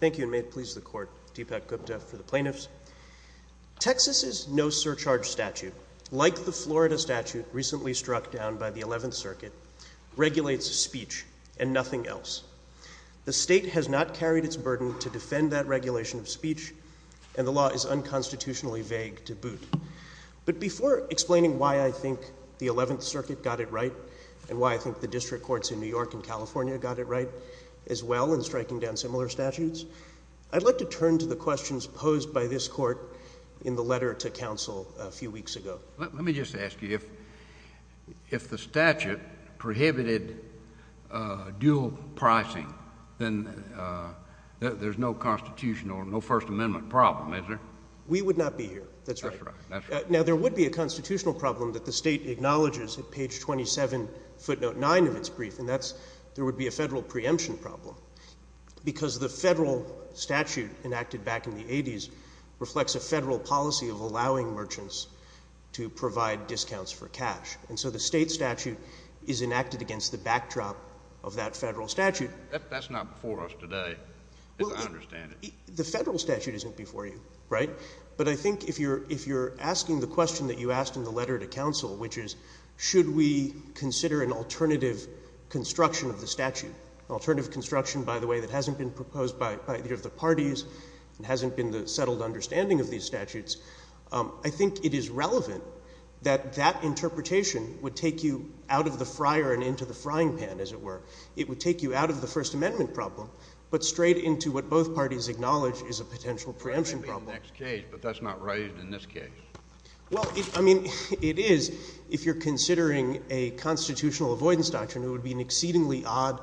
Thank you, and may it please the Court, Deepak Gupta for the Plaintiffs. Texas's no-surcharge statute, like the Florida statute recently struck down by the Eleventh Circuit, regulates speech and nothing else. The state has not carried its burden to defend that regulation of speech, and the law is unconstitutionally vague to boot. But before explaining why I think the Eleventh Circuit got it right, and why I think the I'd like to turn to the questions posed by this Court in the letter to counsel a few weeks ago. JUSTICE KENNEDY Let me just ask you, if the statute prohibited dual pricing, then there's no constitutional, no First Amendment problem, is there? DEEPAK GUPTA We would not be here, that's right. JUSTICE KENNEDY That's right, that's right. DEEPAK GUPTA Now, there would be a constitutional problem that the state acknowledges at page 27, footnote 9 of its brief, and that's there would be a federal preemption problem, because the federal statute enacted back in the 80s reflects a federal policy of allowing merchants to provide discounts for cash. And so the state statute is enacted against the backdrop of that federal statute. JUSTICE KENNEDY That's not before us today, as I understand it. DEEPAK GUPTA The federal statute isn't before you, right? But I think if you're asking the question that you asked in the letter to counsel, which is should we consider an alternative construction of the statute, an alternative construction, by the way, that hasn't been proposed by either of the parties and hasn't been the settled understanding of these statutes, I think it is relevant that that interpretation would take you out of the fryer and into the frying pan, as it were. It would take you out of the First Amendment problem, but straight into what both parties acknowledge is a potential preemption problem. JUSTICE KENNEDY That may be the next case, but that's not raised in this case. DEEPAK GUPTA Well, I mean, it is if you're considering a constitutional avoidance doctrine. It would be an exceedingly odd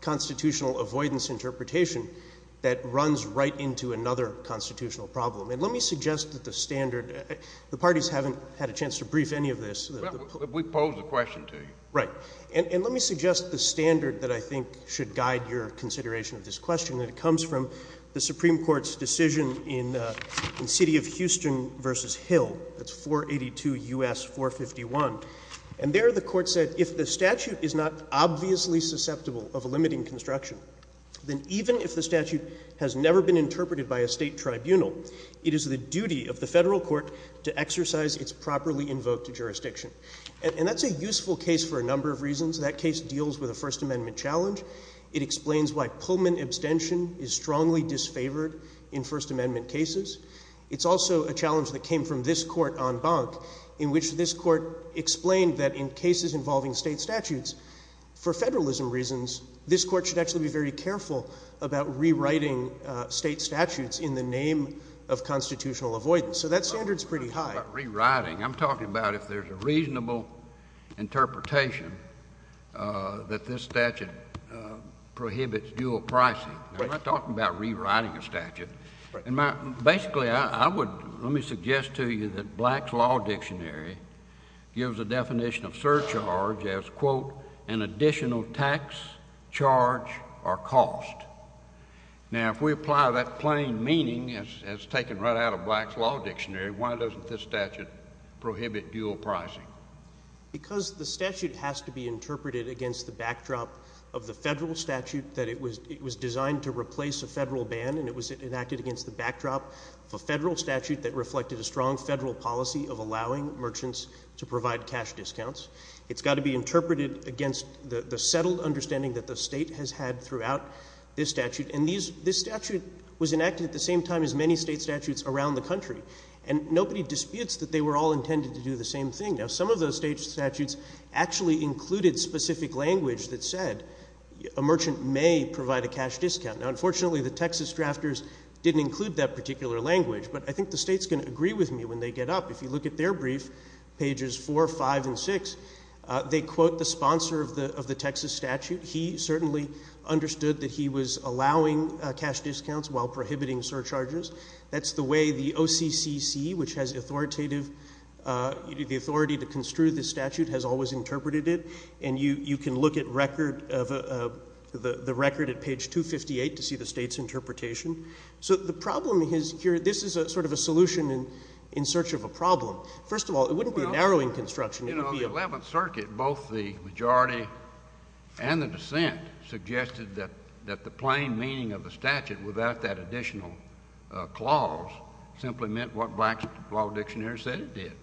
constitutional avoidance interpretation that runs right into another constitutional problem. And let me suggest that the standard, the parties haven't had a chance to brief any of this. JUSTICE KENNEDY Well, we posed the question to you. DEEPAK GUPTA Right. And let me suggest the standard that I think should guide your consideration of this question that comes from the Supreme Court's decision in City of Houston v. Hill, that's 482 U.S. 451. And there the Court said, if the statute is not obviously susceptible of a limiting construction, then even if the statute has never been interpreted by a State Tribunal, it is the duty of the Federal Court to exercise its properly invoked jurisdiction. And that's a useful case for a number of reasons. That case deals with a First Amendment challenge. It explains why Pullman abstention is strongly disfavored in First Amendment cases. It's also a challenge that came from this Court en banc, in which this Court explained that in cases involving State statutes, for Federalism reasons, this Court should actually be very careful about rewriting State statutes in the name of constitutional avoidance. JUSTICE KENNEDY I'm not talking about rewriting. I'm talking about if there's a reasonable interpretation that this statute prohibits dual pricing. I'm not talking about rewriting a statute. Basically, I would—let me suggest to you that Black's Law Dictionary gives a definition of surcharge as, quote, an additional tax charge or cost. Now, if we apply that plain meaning as taken right out of Black's Law Dictionary, why doesn't this statute prohibit dual pricing? CLEMENT Because the statute has to be interpreted against the backdrop of the Federal statute that it was designed to replace a Federal ban, and it was enacted against the backdrop of a Federal statute that reflected a strong Federal policy of allowing merchants to provide cash discounts. It's got to be interpreted against the settled understanding that the State has had throughout this statute. And this statute was enacted at the same time as many State statutes around the country. And nobody disputes that they were all intended to do the same thing. Now, some of those State statutes actually included specific language that said a merchant may provide a cash discount. Now, unfortunately, the Texas drafters didn't include that particular language, but I think the States can agree with me when they get up. If you look at their brief, pages 4, 5, and 6, they quote the sponsor of the Texas statute. He certainly understood that he was allowing cash discounts while prohibiting surcharges. That's the way the OCCC, which has authoritative, the authority to construe this statute, has always interpreted it. And you can look at record of the record at page 258 to see the State's interpretation. So the problem is here, this is a sort of a solution in search of a problem. First of all, it wouldn't be a narrowing construction in the field. JUSTICE KENNEDY On the Eleventh Circuit, both the majority and the dissent suggested that the plain meaning of the statute, without that additional clause, simply meant what Black's Law Dictionary said it did. MR. WARREN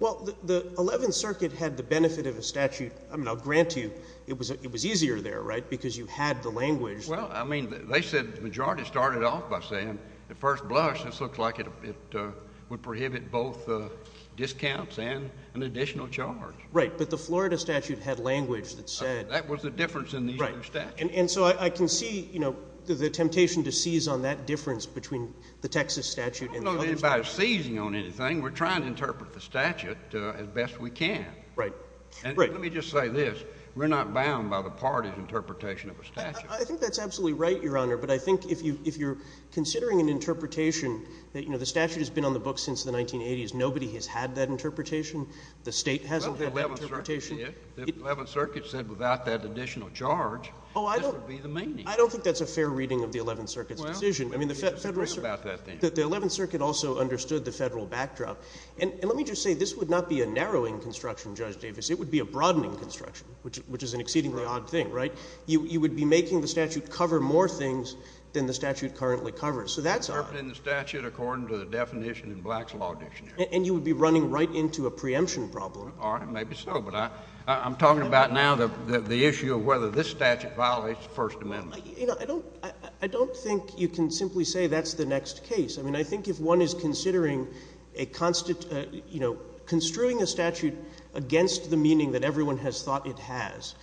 Well, the Eleventh Circuit had the benefit of a statute. I mean, I'll grant to you it was easier there, right, because you had the language. JUSTICE KENNEDY Well, I mean, they said the majority started off by saying at first blush this looks like it would prohibit both discounts and an additional charge. MR. WARREN Right, but the Florida statute had language that said— JUSTICE KENNEDY That was the difference in these two statutes. MR. WARREN I see, you know, the temptation to seize on that difference between the Texas statute and the other statutes. JUSTICE KENNEDY I don't know that anybody's seizing on anything. We're trying to interpret the statute as best we can. WARREN Right, right. JUSTICE KENNEDY And let me just say this, we're not bound by the party's interpretation of a statute. MR. WARREN I think that's absolutely right, Your Honor, but I think if you're considering an interpretation that, you know, the statute has been on the books since the 1980s, nobody has had that interpretation. The State hasn't had that interpretation. JUSTICE KENNEDY Well, the Eleventh Circuit did. The Eleventh Circuit said without that additional charge, this would be the meaning. MR. WARREN I don't think that's a fair reading of the Eleventh Circuit's decision. JUSTICE KENNEDY Well, let me disagree about that then. MR. WARREN The Eleventh Circuit also understood the federal backdrop. And let me just say, this would not be a narrowing construction, Judge Davis. It would be a broadening construction, which is an exceedingly odd thing, right? You would be making the statute cover more things than the statute currently covers. So that's odd. JUSTICE KENNEDY Interpreting the statute according to the definition in Black's Law Dictionary. MR. WARREN And you would be running right into a preemption problem. JUSTICE KENNEDY All right, maybe so, but I'm talking about now the issue of whether this statute violates the First Amendment. MR. WARREN I don't think you can simply say that's the next case. I mean, I think if one is considering a, you know, construing a statute against the meaning that everyone has thought it has,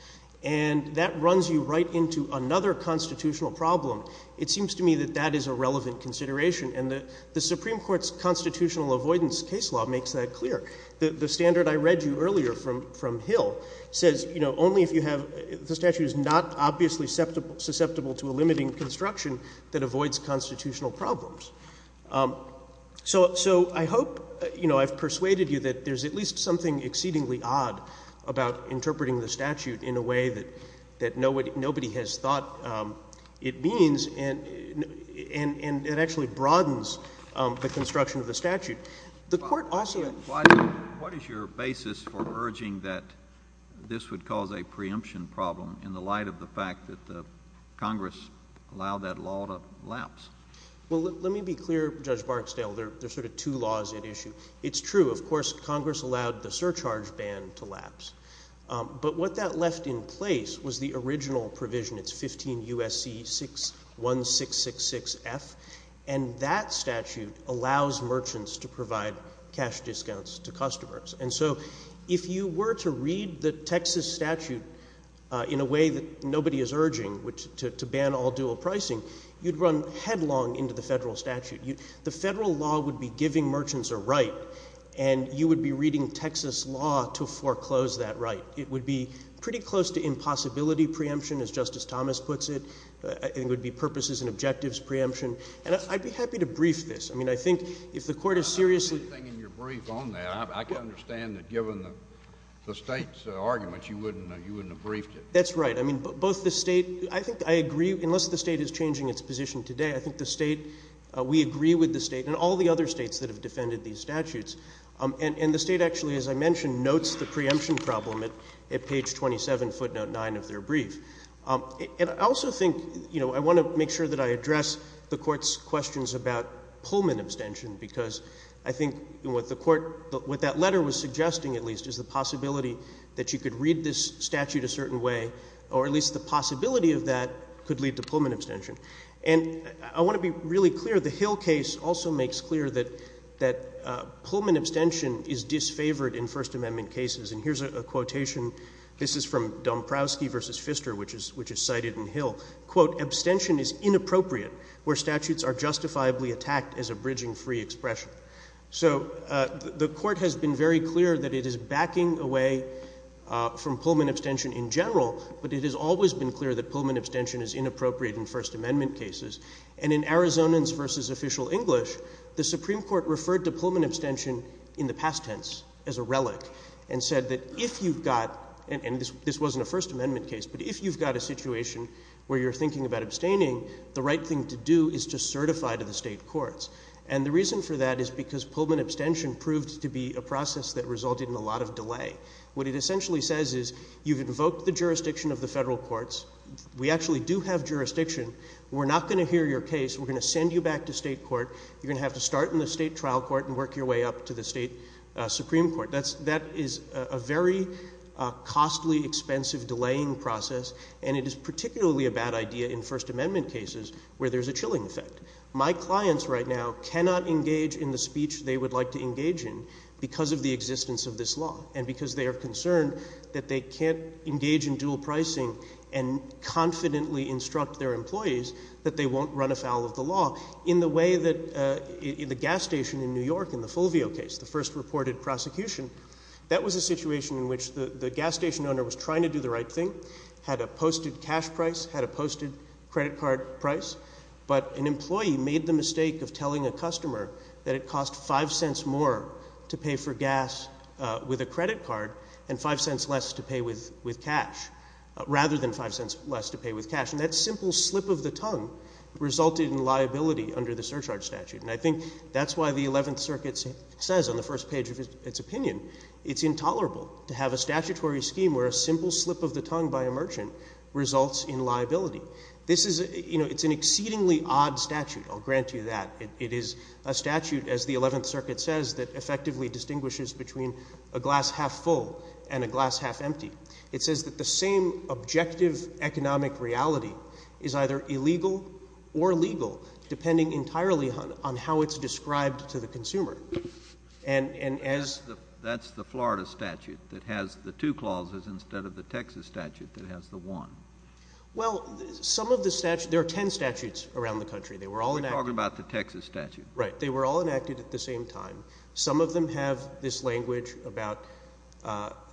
and that runs you right into another constitutional problem, it seems to me that that is a relevant consideration. And the Supreme Court's constitutional avoidance case law makes that clear. The standard I read you earlier from Hill says, you know, only if you have, the statute is not obviously susceptible to a limiting construction that avoids constitutional problems. So I hope, you know, I've persuaded you that there's at least something exceedingly odd about interpreting the statute in a way that nobody has thought it means, and it actually broadens the construction of the statute. The Court also had— JUSTICE KENNEDY What is your basis for urging that this would cause a preemption problem in the light of the fact that Congress allowed that law to lapse? WARREN Well, let me be clear, Judge Barksdale, there's sort of two laws at issue. It's true, of course, Congress allowed the surcharge ban to lapse. But what that left in place was the original provision, it's 15 U.S.C. 61666F, and that statute allows merchants to provide cash discounts to customers. And so if you were to read the Texas statute in a way that nobody is urging, which to ban all dual pricing, you'd run headlong into the federal statute. The federal law would be giving merchants a right, and you would be reading Texas law to foreclose that right. It would be pretty close to impossibility preemption, as Justice Thomas puts it. It would be purposes and objectives preemption. And I'd be happy to brief this. I mean, I think if the Court is seriously— JUSTICE KENNEDY I understand that given the State's argument, you wouldn't have briefed it. WARREN That's right. I mean, both the State—I think I agree, unless the State is changing its position today, I think the State, we agree with the State and all the other States that have defended these statutes. And the State actually, as I mentioned, notes the preemption problem at page 27, footnote 9 of their brief. And I also think, you know, I want to make sure that I address the Court's questions about Pullman abstention, because I think what the Court, what that letter was suggesting at least is the possibility that you could read this statute a certain way, or at least the possibility of that could lead to Pullman abstention. And I want to be really clear, the Hill case also makes clear that Pullman abstention is disfavored in First Amendment cases. And here's a quotation. This is from Domprowski v. Pfister, which is cited in Hill, quote, "'Abstention is inappropriate where statutes are justifiably attacked as a bridging free expression.'" So the Court has been very clear that it is backing away from Pullman abstention in general, but it has always been clear that Pullman abstention is inappropriate in First Amendment cases. And in Arizonans v. Official English, the Supreme Court referred to Pullman abstention in the past tense as a relic, and said that if you've got—and this wasn't a First Amendment abstaining, the right thing to do is to certify to the state courts. And the reason for that is because Pullman abstention proved to be a process that resulted in a lot of delay. What it essentially says is you've invoked the jurisdiction of the federal courts, we actually do have jurisdiction, we're not going to hear your case, we're going to send you back to state court, you're going to have to start in the state trial court and work your way up to the state Supreme Court. That is a very costly, expensive, delaying process, and it is particularly a bad idea in First Amendment cases where there's a chilling effect. My clients right now cannot engage in the speech they would like to engage in because of the existence of this law and because they are concerned that they can't engage in dual pricing and confidently instruct their employees that they won't run afoul of the law in the way that the gas station in New York in the Fulvio case, the first reported prosecution, that was a situation in which the gas station owner was trying to do the right thing, had a posted cash price, had a posted credit card price, but an employee made the mistake of telling a customer that it cost five cents more to pay for gas with a credit card and five cents less to pay with cash, rather than five cents less to pay with cash, and that simple slip of the tongue resulted in liability under the surcharge statute, and I think that's why the Eleventh Circuit says on the first page of its opinion, it's intolerable to have a statutory scheme where a simple slip of the tongue by a merchant results in liability. This is, you know, it's an exceedingly odd statute, I'll grant you that. It is a statute, as the Eleventh Circuit says, that effectively distinguishes between a glass half full and a glass half empty. It says that the same objective economic reality is either illegal or legal, depending entirely on how it's described to the consumer. And as — But that's the Florida statute that has the two clauses instead of the Texas statute that has the one. Well, some of the — there are ten statutes around the country. They were all enacted — You're talking about the Texas statute. Right. They were all enacted at the same time. Some of them have this language about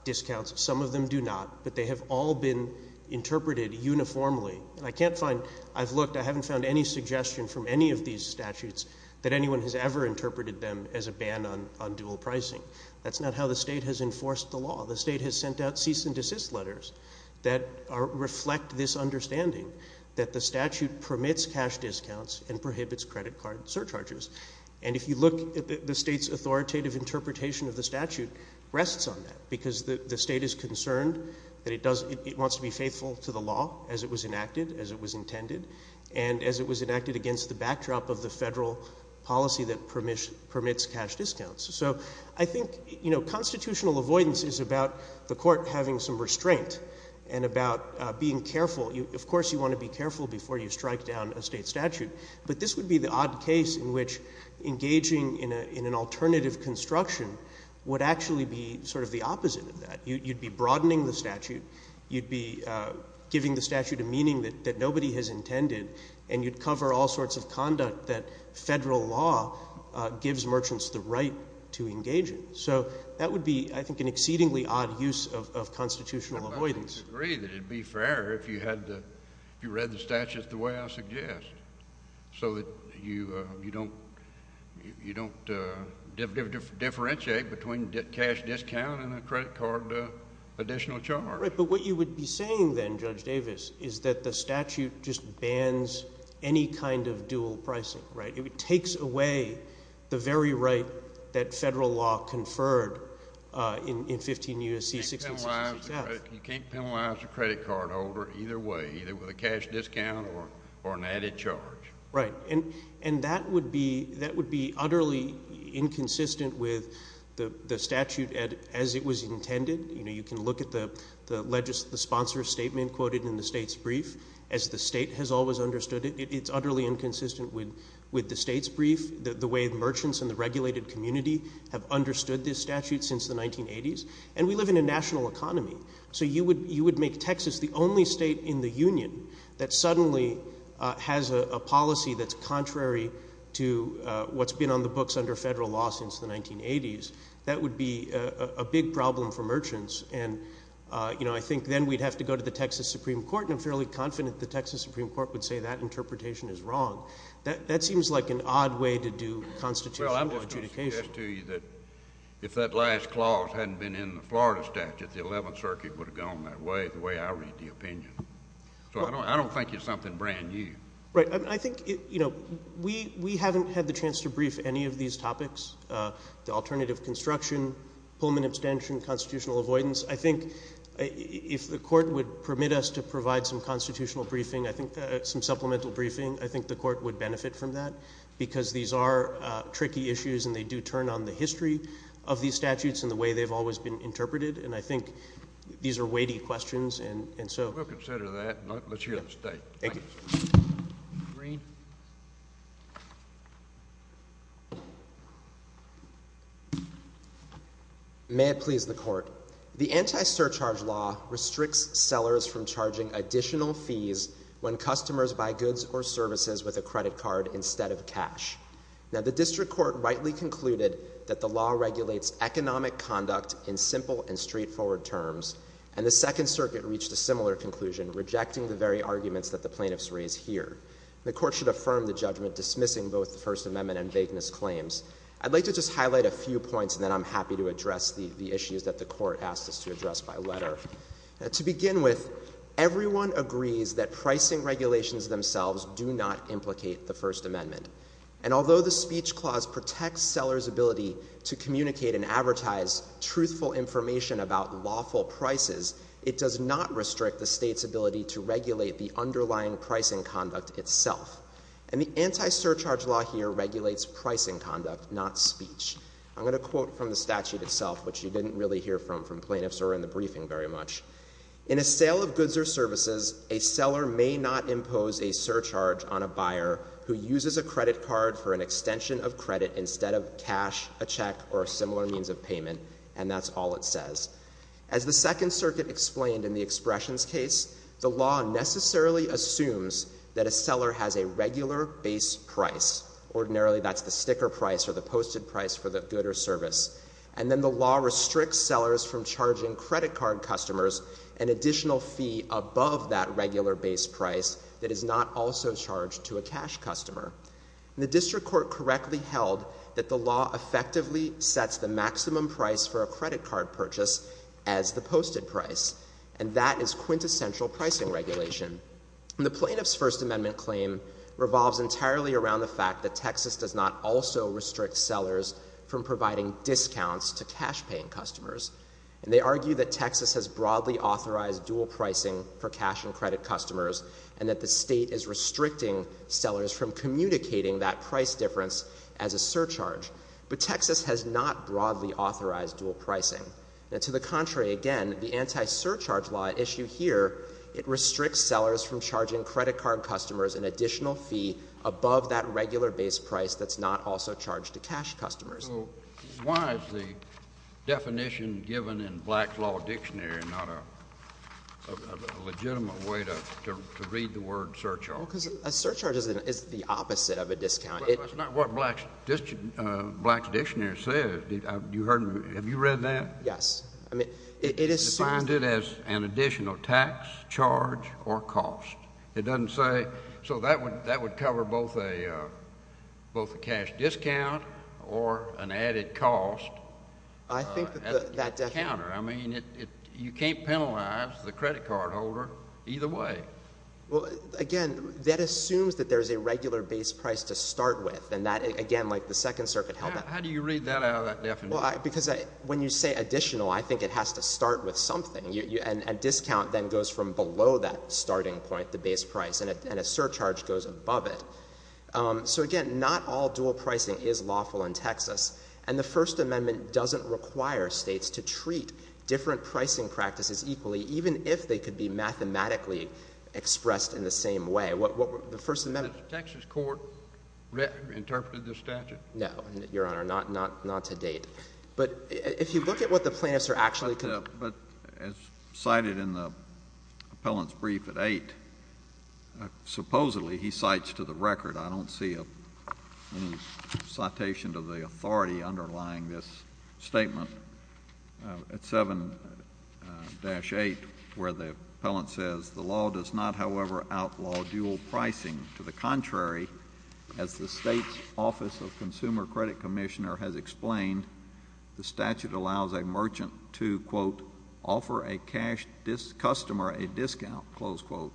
discounts, some of them do not, but they have all been interpreted uniformly, and I can't find — I've looked, I haven't found any suggestion from any of these statutes that anyone has ever interpreted them as a ban on dual pricing. That's not how the state has enforced the law. The state has sent out cease-and-desist letters that reflect this understanding, that the statute permits cash discounts and prohibits credit card surcharges. And if you look at the state's authoritative interpretation of the statute, rests on that, because the state is concerned that it does — it wants to be faithful to the law as it was enacted, as it was intended, and as it was enacted against the backdrop of the federal policy that permits cash discounts. So I think, you know, constitutional avoidance is about the court having some restraint and about being careful. Of course you want to be careful before you strike down a state statute, but this would be the odd case in which engaging in an alternative construction would actually be sort of the opposite of that. You'd be broadening the statute, you'd be giving the statute a meaning that nobody has intended, and you'd cover all sorts of conduct that federal law gives merchants the right to engage in. So that would be, I think, an exceedingly odd use of constitutional avoidance. I would agree that it would be fairer if you had the — if you read the statute the way I suggest, so that you don't — you don't differentiate between cash discount and a additional charge. Right. But what you would be saying then, Judge Davis, is that the statute just bans any kind of dual pricing, right? It takes away the very right that federal law conferred in 15 U.S.C. 1666-F. You can't penalize a credit card holder either way, either with a cash discount or an added charge. Right. And that would be utterly inconsistent with the statute as it was intended. You can look at the sponsor's statement quoted in the state's brief. As the state has always understood it, it's utterly inconsistent with the state's brief, the way the merchants and the regulated community have understood this statute since the 1980s. And we live in a national economy. So you would make Texas the only state in the union that suddenly has a policy that's contrary to what's been on the books under federal law since the 1980s. That would be a big problem for merchants. And, you know, I think then we'd have to go to the Texas Supreme Court, and I'm fairly confident the Texas Supreme Court would say that interpretation is wrong. That seems like an odd way to do constitutional adjudication. Well, I'm just going to suggest to you that if that last clause hadn't been in the Florida statute, the Eleventh Circuit would have gone that way, the way I read the opinion. So I don't think it's something brand new. Right. I mean, I think, you know, we haven't had the chance to brief any of these topics, the alternative construction, Pullman abstention, constitutional avoidance. I think if the court would permit us to provide some constitutional briefing, I think some supplemental briefing, I think the court would benefit from that, because these are tricky issues and they do turn on the history of these statutes and the way they've always been interpreted. And I think these are weighty questions. And so — We'll consider that. Let's hear the state. Thank you. May it please the court. The anti-surcharge law restricts sellers from charging additional fees when customers buy goods or services with a credit card instead of cash. Now, the district court rightly concluded that the law regulates economic conduct in simple and straightforward terms, and the Second Circuit reached a similar conclusion, rejecting the very arguments that the plaintiffs raise here. The court should affirm the judgment dismissing both the First Amendment and vagueness claims. I'd like to just highlight a few points, and then I'm happy to address the issues that the court asked us to address by letter. To begin with, everyone agrees that pricing regulations themselves do not implicate the First Amendment. And although the speech clause protects sellers' ability to communicate and advertise truthful information about lawful prices, it does not restrict the state's ability to regulate the underlying pricing conduct itself. And the anti-surcharge law here regulates pricing conduct, not speech. I'm going to quote from the statute itself, which you didn't really hear from plaintiffs or in the briefing very much. In a sale of goods or services, a seller may not impose a surcharge on a buyer who uses a credit card for an extension of credit instead of cash, a check, or a similar means of payment. And that's all it says. As the Second Circuit explained in the Expressions case, the law necessarily assumes that a seller has a regular base price. Ordinarily, that's the sticker price or the posted price for the good or service. And then the law restricts sellers from charging credit card customers an additional fee above that regular base price that is not also charged to a cash customer. The district court correctly held that the law effectively sets the maximum price for a credit card purchase as the posted price. And that is quintessential pricing regulation. The plaintiff's First Amendment claim revolves entirely around the fact that Texas does not also restrict sellers from providing discounts to cash-paying customers. And they argue that Texas has broadly authorized dual pricing for cash and credit customers and that the state is restricting sellers from communicating that price difference as a surcharge. But Texas has not broadly authorized dual pricing. To the contrary, again, the anti-surcharge law issue here, it restricts sellers from charging credit card customers an additional fee above that regular base price that's not also charged to cash customers. So why is the definition given in Black's Law Dictionary not a legitimate way to read the word surcharge? Well, because a surcharge is the opposite of a discount. But that's not what Black's Dictionary says. Have you read that? Yes. I mean, it is— It's defined as an additional tax charge or cost. It doesn't say—so that would cover both a cash discount or an added cost. I think that the— At the counter. I mean, you can't penalize the credit card holder either way. Well, again, that assumes that there's a regular base price to start with. And that, again, like the Second Circuit held that— How do you read that out of that definition? Because when you say additional, I think it has to start with something. A discount then goes from below that starting point, the base price, and a surcharge goes above it. So, again, not all dual pricing is lawful in Texas. And the First Amendment doesn't require states to treat different pricing practices equally, even if they could be mathematically expressed in the same way. The First Amendment— Has the Texas court interpreted this statute? No, Your Honor. Not to date. But if you look at what the plaintiffs are actually— But as cited in the appellant's brief at 8, supposedly, he cites to the record—I don't see any citation to the authority underlying this statement—at 7-8, where the appellant says, the law does not, however, outlaw dual pricing. To the contrary, as the state's Office of Consumer Credit Commissioner has explained, the statute allows a merchant to, quote, offer a cash customer a discount, close quote,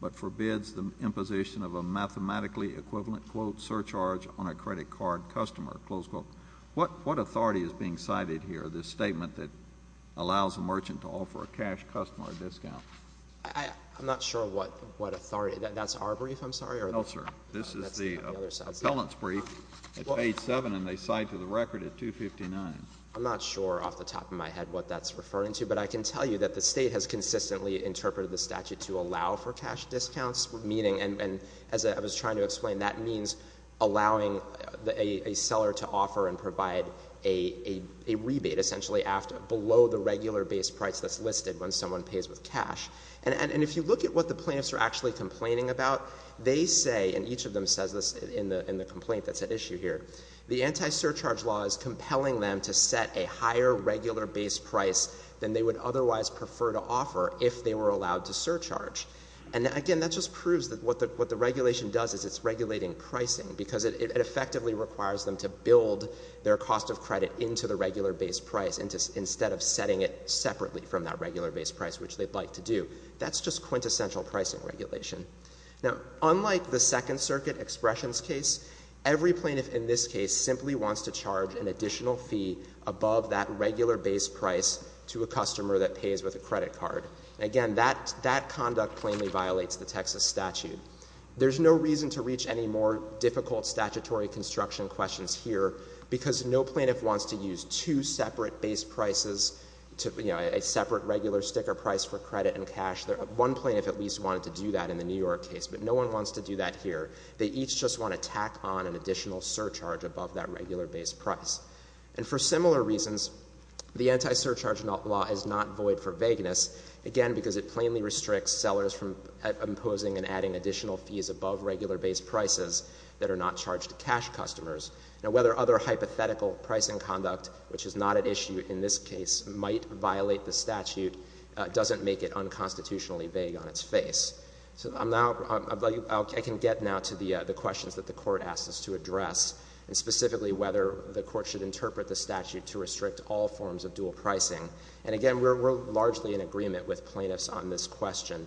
but forbids the imposition of a mathematically equivalent, quote, surcharge on a credit card customer, close quote. What authority is being cited here, this statement that allows a merchant to offer a cash customer a discount? I'm not sure what authority—that's our brief, I'm sorry? No, sir. This is the appellant's brief at page 7, and they cite to the record at 259. I'm not sure off the top of my head what that's referring to, but I can tell you that the state has consistently interpreted the statute to allow for cash discounts, meaning—and as I was trying to explain, that means allowing a seller to offer and provide a rebate, essentially, below the regular base price that's listed when someone pays with cash. And if you look at what the plaintiffs are actually complaining about, they say—and each of them says this in the complaint that's at issue here—the anti-surcharge law is compelling them to set a higher regular base price than they would otherwise prefer to offer if they were allowed to surcharge. And again, that just proves that what the regulation does is it's regulating pricing, because it effectively requires them to build their cost of credit into the regular base price instead of setting it separately from that regular base price, which they'd like to do. That's just quintessential pricing regulation. Now, unlike the Second Circuit Expressions case, every plaintiff in this case simply wants to charge an additional fee above that regular base price to a customer that pays with a credit card. Again, that conduct plainly violates the Texas statute. There's no reason to reach any more difficult statutory construction questions here, because no plaintiff wants to use two separate base prices, you know, a separate regular sticker price for credit and cash. One plaintiff at least wanted to do that in the New York case, but no one wants to do that here. They each just want to tack on an additional surcharge above that regular base price. And for similar reasons, the anti-surcharge law is not void for vagueness, again, because it plainly restricts sellers from imposing and adding additional fees above regular base prices that are not charged to cash customers. Now, whether other hypothetical pricing conduct, which is not at issue in this case, might violate the statute doesn't make it unconstitutionally vague on its face. So I can get now to the questions that the Court asked us to address, and specifically whether the Court should interpret the statute to restrict all forms of dual pricing. And again, we're largely in agreement with plaintiffs on this question.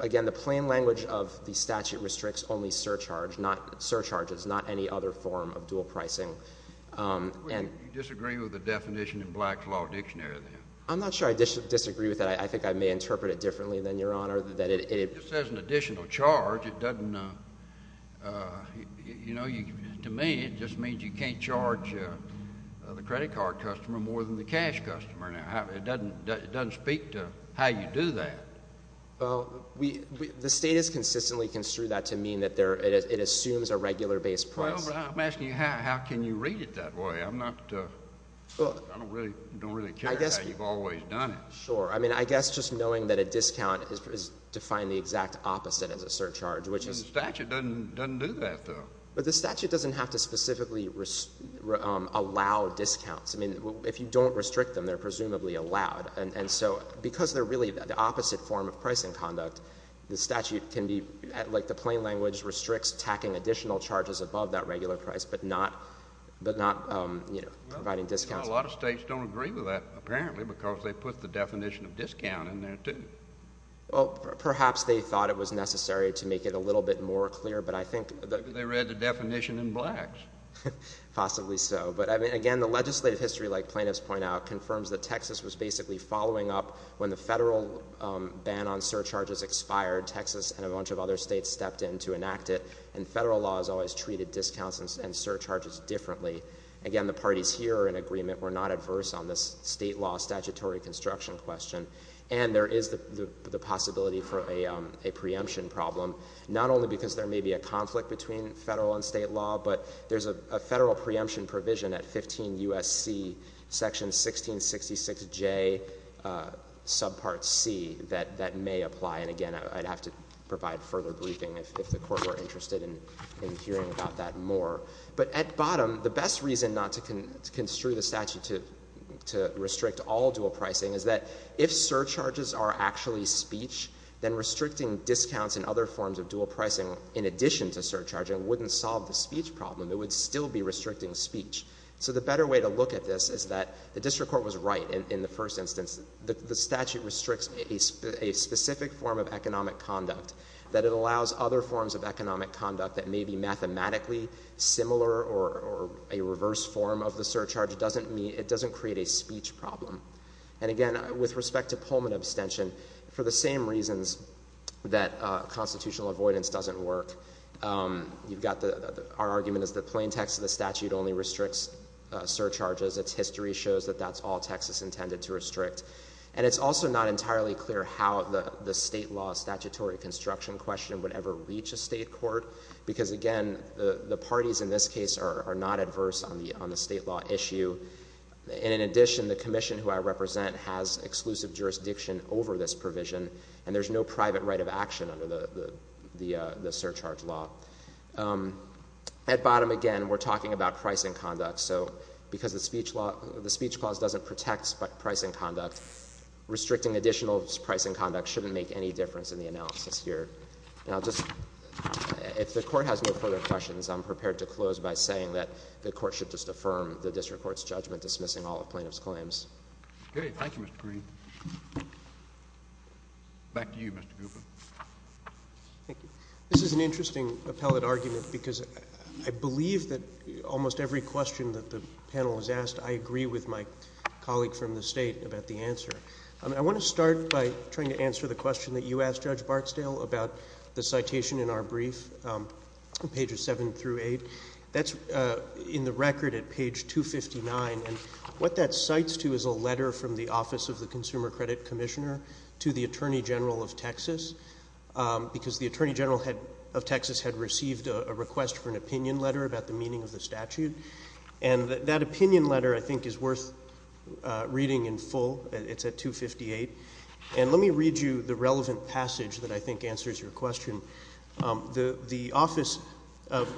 Again, the plain language of the statute restricts only surcharges, not any other form of dual pricing. You disagree with the definition in Black's Law Dictionary, then? I'm not sure I disagree with that. I think I may interpret it differently than Your Honor, that it— It just says an additional charge. It doesn't—you know, to me, it just means you can't charge the credit card customer more than the cash customer. It doesn't speak to how you do that. The State has consistently construed that to mean that it assumes a regular base price. I'm asking you, how can you read it that way? I'm not—I don't really care how you've always done it. Sure. I mean, I guess just knowing that a discount is defined the exact opposite as a surcharge, which is— The statute doesn't do that, though. But the statute doesn't have to specifically allow discounts. I mean, if you don't restrict them, they're presumably allowed. And so, because they're really the opposite form of pricing conduct, the statute can be—like the plain language restricts tacking additional charges above that regular price, but not providing discounts. Well, a lot of states don't agree with that, apparently, because they put the definition of discount in there, too. Well, perhaps they thought it was necessary to make it a little bit more clear, but I think— Maybe they read the definition in Blacks. Possibly so. But, again, the legislative history, like plaintiffs point out, confirms that Texas was basically following up when the federal ban on surcharges expired, Texas and a bunch of other states stepped in to enact it. And federal law has always treated discounts and surcharges differently. Again, the parties here are in agreement. We're not adverse on this state law statutory construction question. And there is the possibility for a preemption problem, not only because there may be a conflict between federal and state law, but there's a federal preemption provision at 15 U.S.C. section 1666J subpart C that may apply. And, again, I'd have to provide further briefing if the Court were interested in hearing about that more. But at bottom, the best reason not to construe the statute to restrict all dual pricing is that if surcharges are actually speech, then restricting discounts and other forms of dual pricing in addition to surcharging wouldn't solve the speech problem. It would still be restricting speech. So the better way to look at this is that the district court was right in the first instance. The statute restricts a specific form of economic conduct. That it allows other forms of economic conduct that may be mathematically similar or a reverse form of the surcharge, it doesn't create a speech problem. And again, with respect to Pullman abstention, for the same reasons that constitutional avoidance doesn't work, our argument is the plain text of the statute only restricts surcharges. Because its history shows that that's all Texas intended to restrict. And it's also not entirely clear how the state law statutory construction question would ever reach a state court. Because again, the parties in this case are not adverse on the state law issue. And in addition, the commission who I represent has exclusive jurisdiction over this provision and there's no private right of action under the surcharge law. At bottom, again, we're talking about pricing conduct. So because the speech clause doesn't protect pricing conduct, restricting additional pricing conduct shouldn't make any difference in the analysis here. And I'll just, if the court has no further questions, I'm prepared to close by saying that the court should just affirm the district court's judgment dismissing all of plaintiff's claims. Okay. Thank you, Mr. Kareem. Back to you, Mr. Gupta. Thank you. This is an interesting appellate argument because I believe that almost every question that the panel has asked, I agree with my colleague from the state about the answer. I want to start by trying to answer the question that you asked, Judge Barksdale, about the citation in our brief, pages 7 through 8. That's in the record at page 259. And what that cites to is a letter from the Office of the Consumer Credit Commissioner to the Attorney General of Texas because the Attorney General of Texas had received a request for an opinion letter about the meaning of the statute. And that opinion letter, I think, is worth reading in full. It's at 258. And let me read you the relevant passage that I think answers your question. The office of,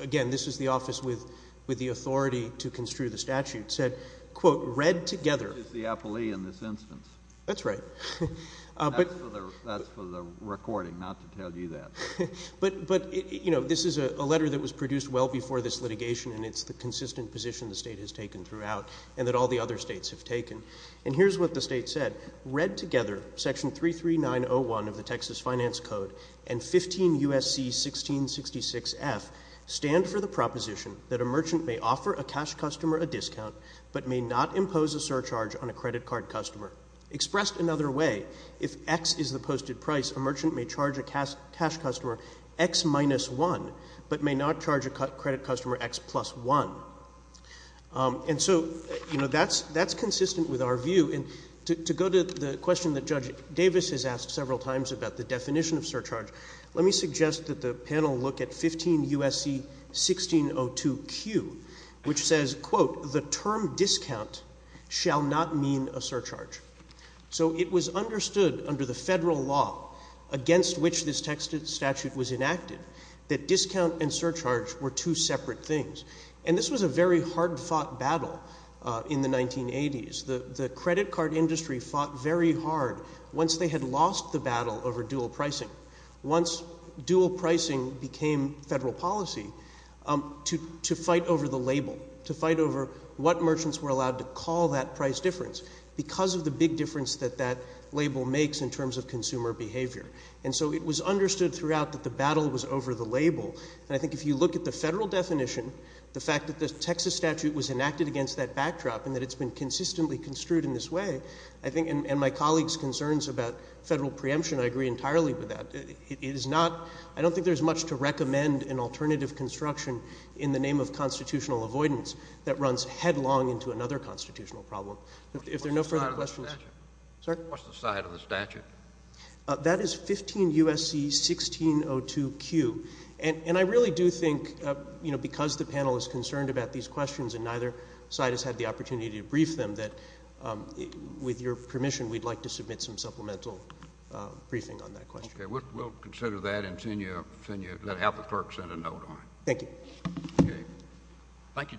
again, this is the office with the authority to construe the statute, said, quote, read together. This is the appellee in this instance. That's right. That's for the recording, not to tell you that. But you know, this is a letter that was produced well before this litigation and it's the consistent position the state has taken throughout and that all the other states have taken. And here's what the state said. Read together, section 33901 of the Texas Finance Code and 15 U.S.C. 1666F stand for the proposition that a merchant may offer a cash customer a discount but may not impose a surcharge on a credit card customer. Expressed another way, if X is the posted price, a merchant may charge a cash customer X minus 1 but may not charge a credit customer X plus 1. And so, you know, that's consistent with our view. And to go to the question that Judge Davis has asked several times about the definition of surcharge, let me suggest that the panel look at 15 U.S.C. 1602Q, which says, quote, the term discount shall not mean a surcharge. So it was understood under the federal law against which this statute was enacted that discount and surcharge were two separate things. And this was a very hard-fought battle in the 1980s. The credit card industry fought very hard once they had lost the battle over dual pricing. Once dual pricing became federal policy, to fight over the label, to fight over what merchants were allowed to call that price difference because of the big difference that that label makes in terms of consumer behavior. And so it was understood throughout that the battle was over the label. And I think if you look at the federal definition, the fact that the Texas statute was enacted against that backdrop and that it's been consistently construed in this way, I think, and my colleague's point about federal preemption, I agree entirely with that. It is not, I don't think there's much to recommend an alternative construction in the name of constitutional avoidance that runs headlong into another constitutional problem. What's the side of the statute? Sorry? What's the side of the statute? That is 15 U.S.C. 1602Q. And I really do think, you know, because the panel is concerned about these questions and neither side has had the opportunity to brief them, that with your permission, we'd like to submit some supplemental briefing on that question. Okay. We'll consider that and send you, let the clerk send a note on it. Thank you. Okay. Thank you, gentlemen.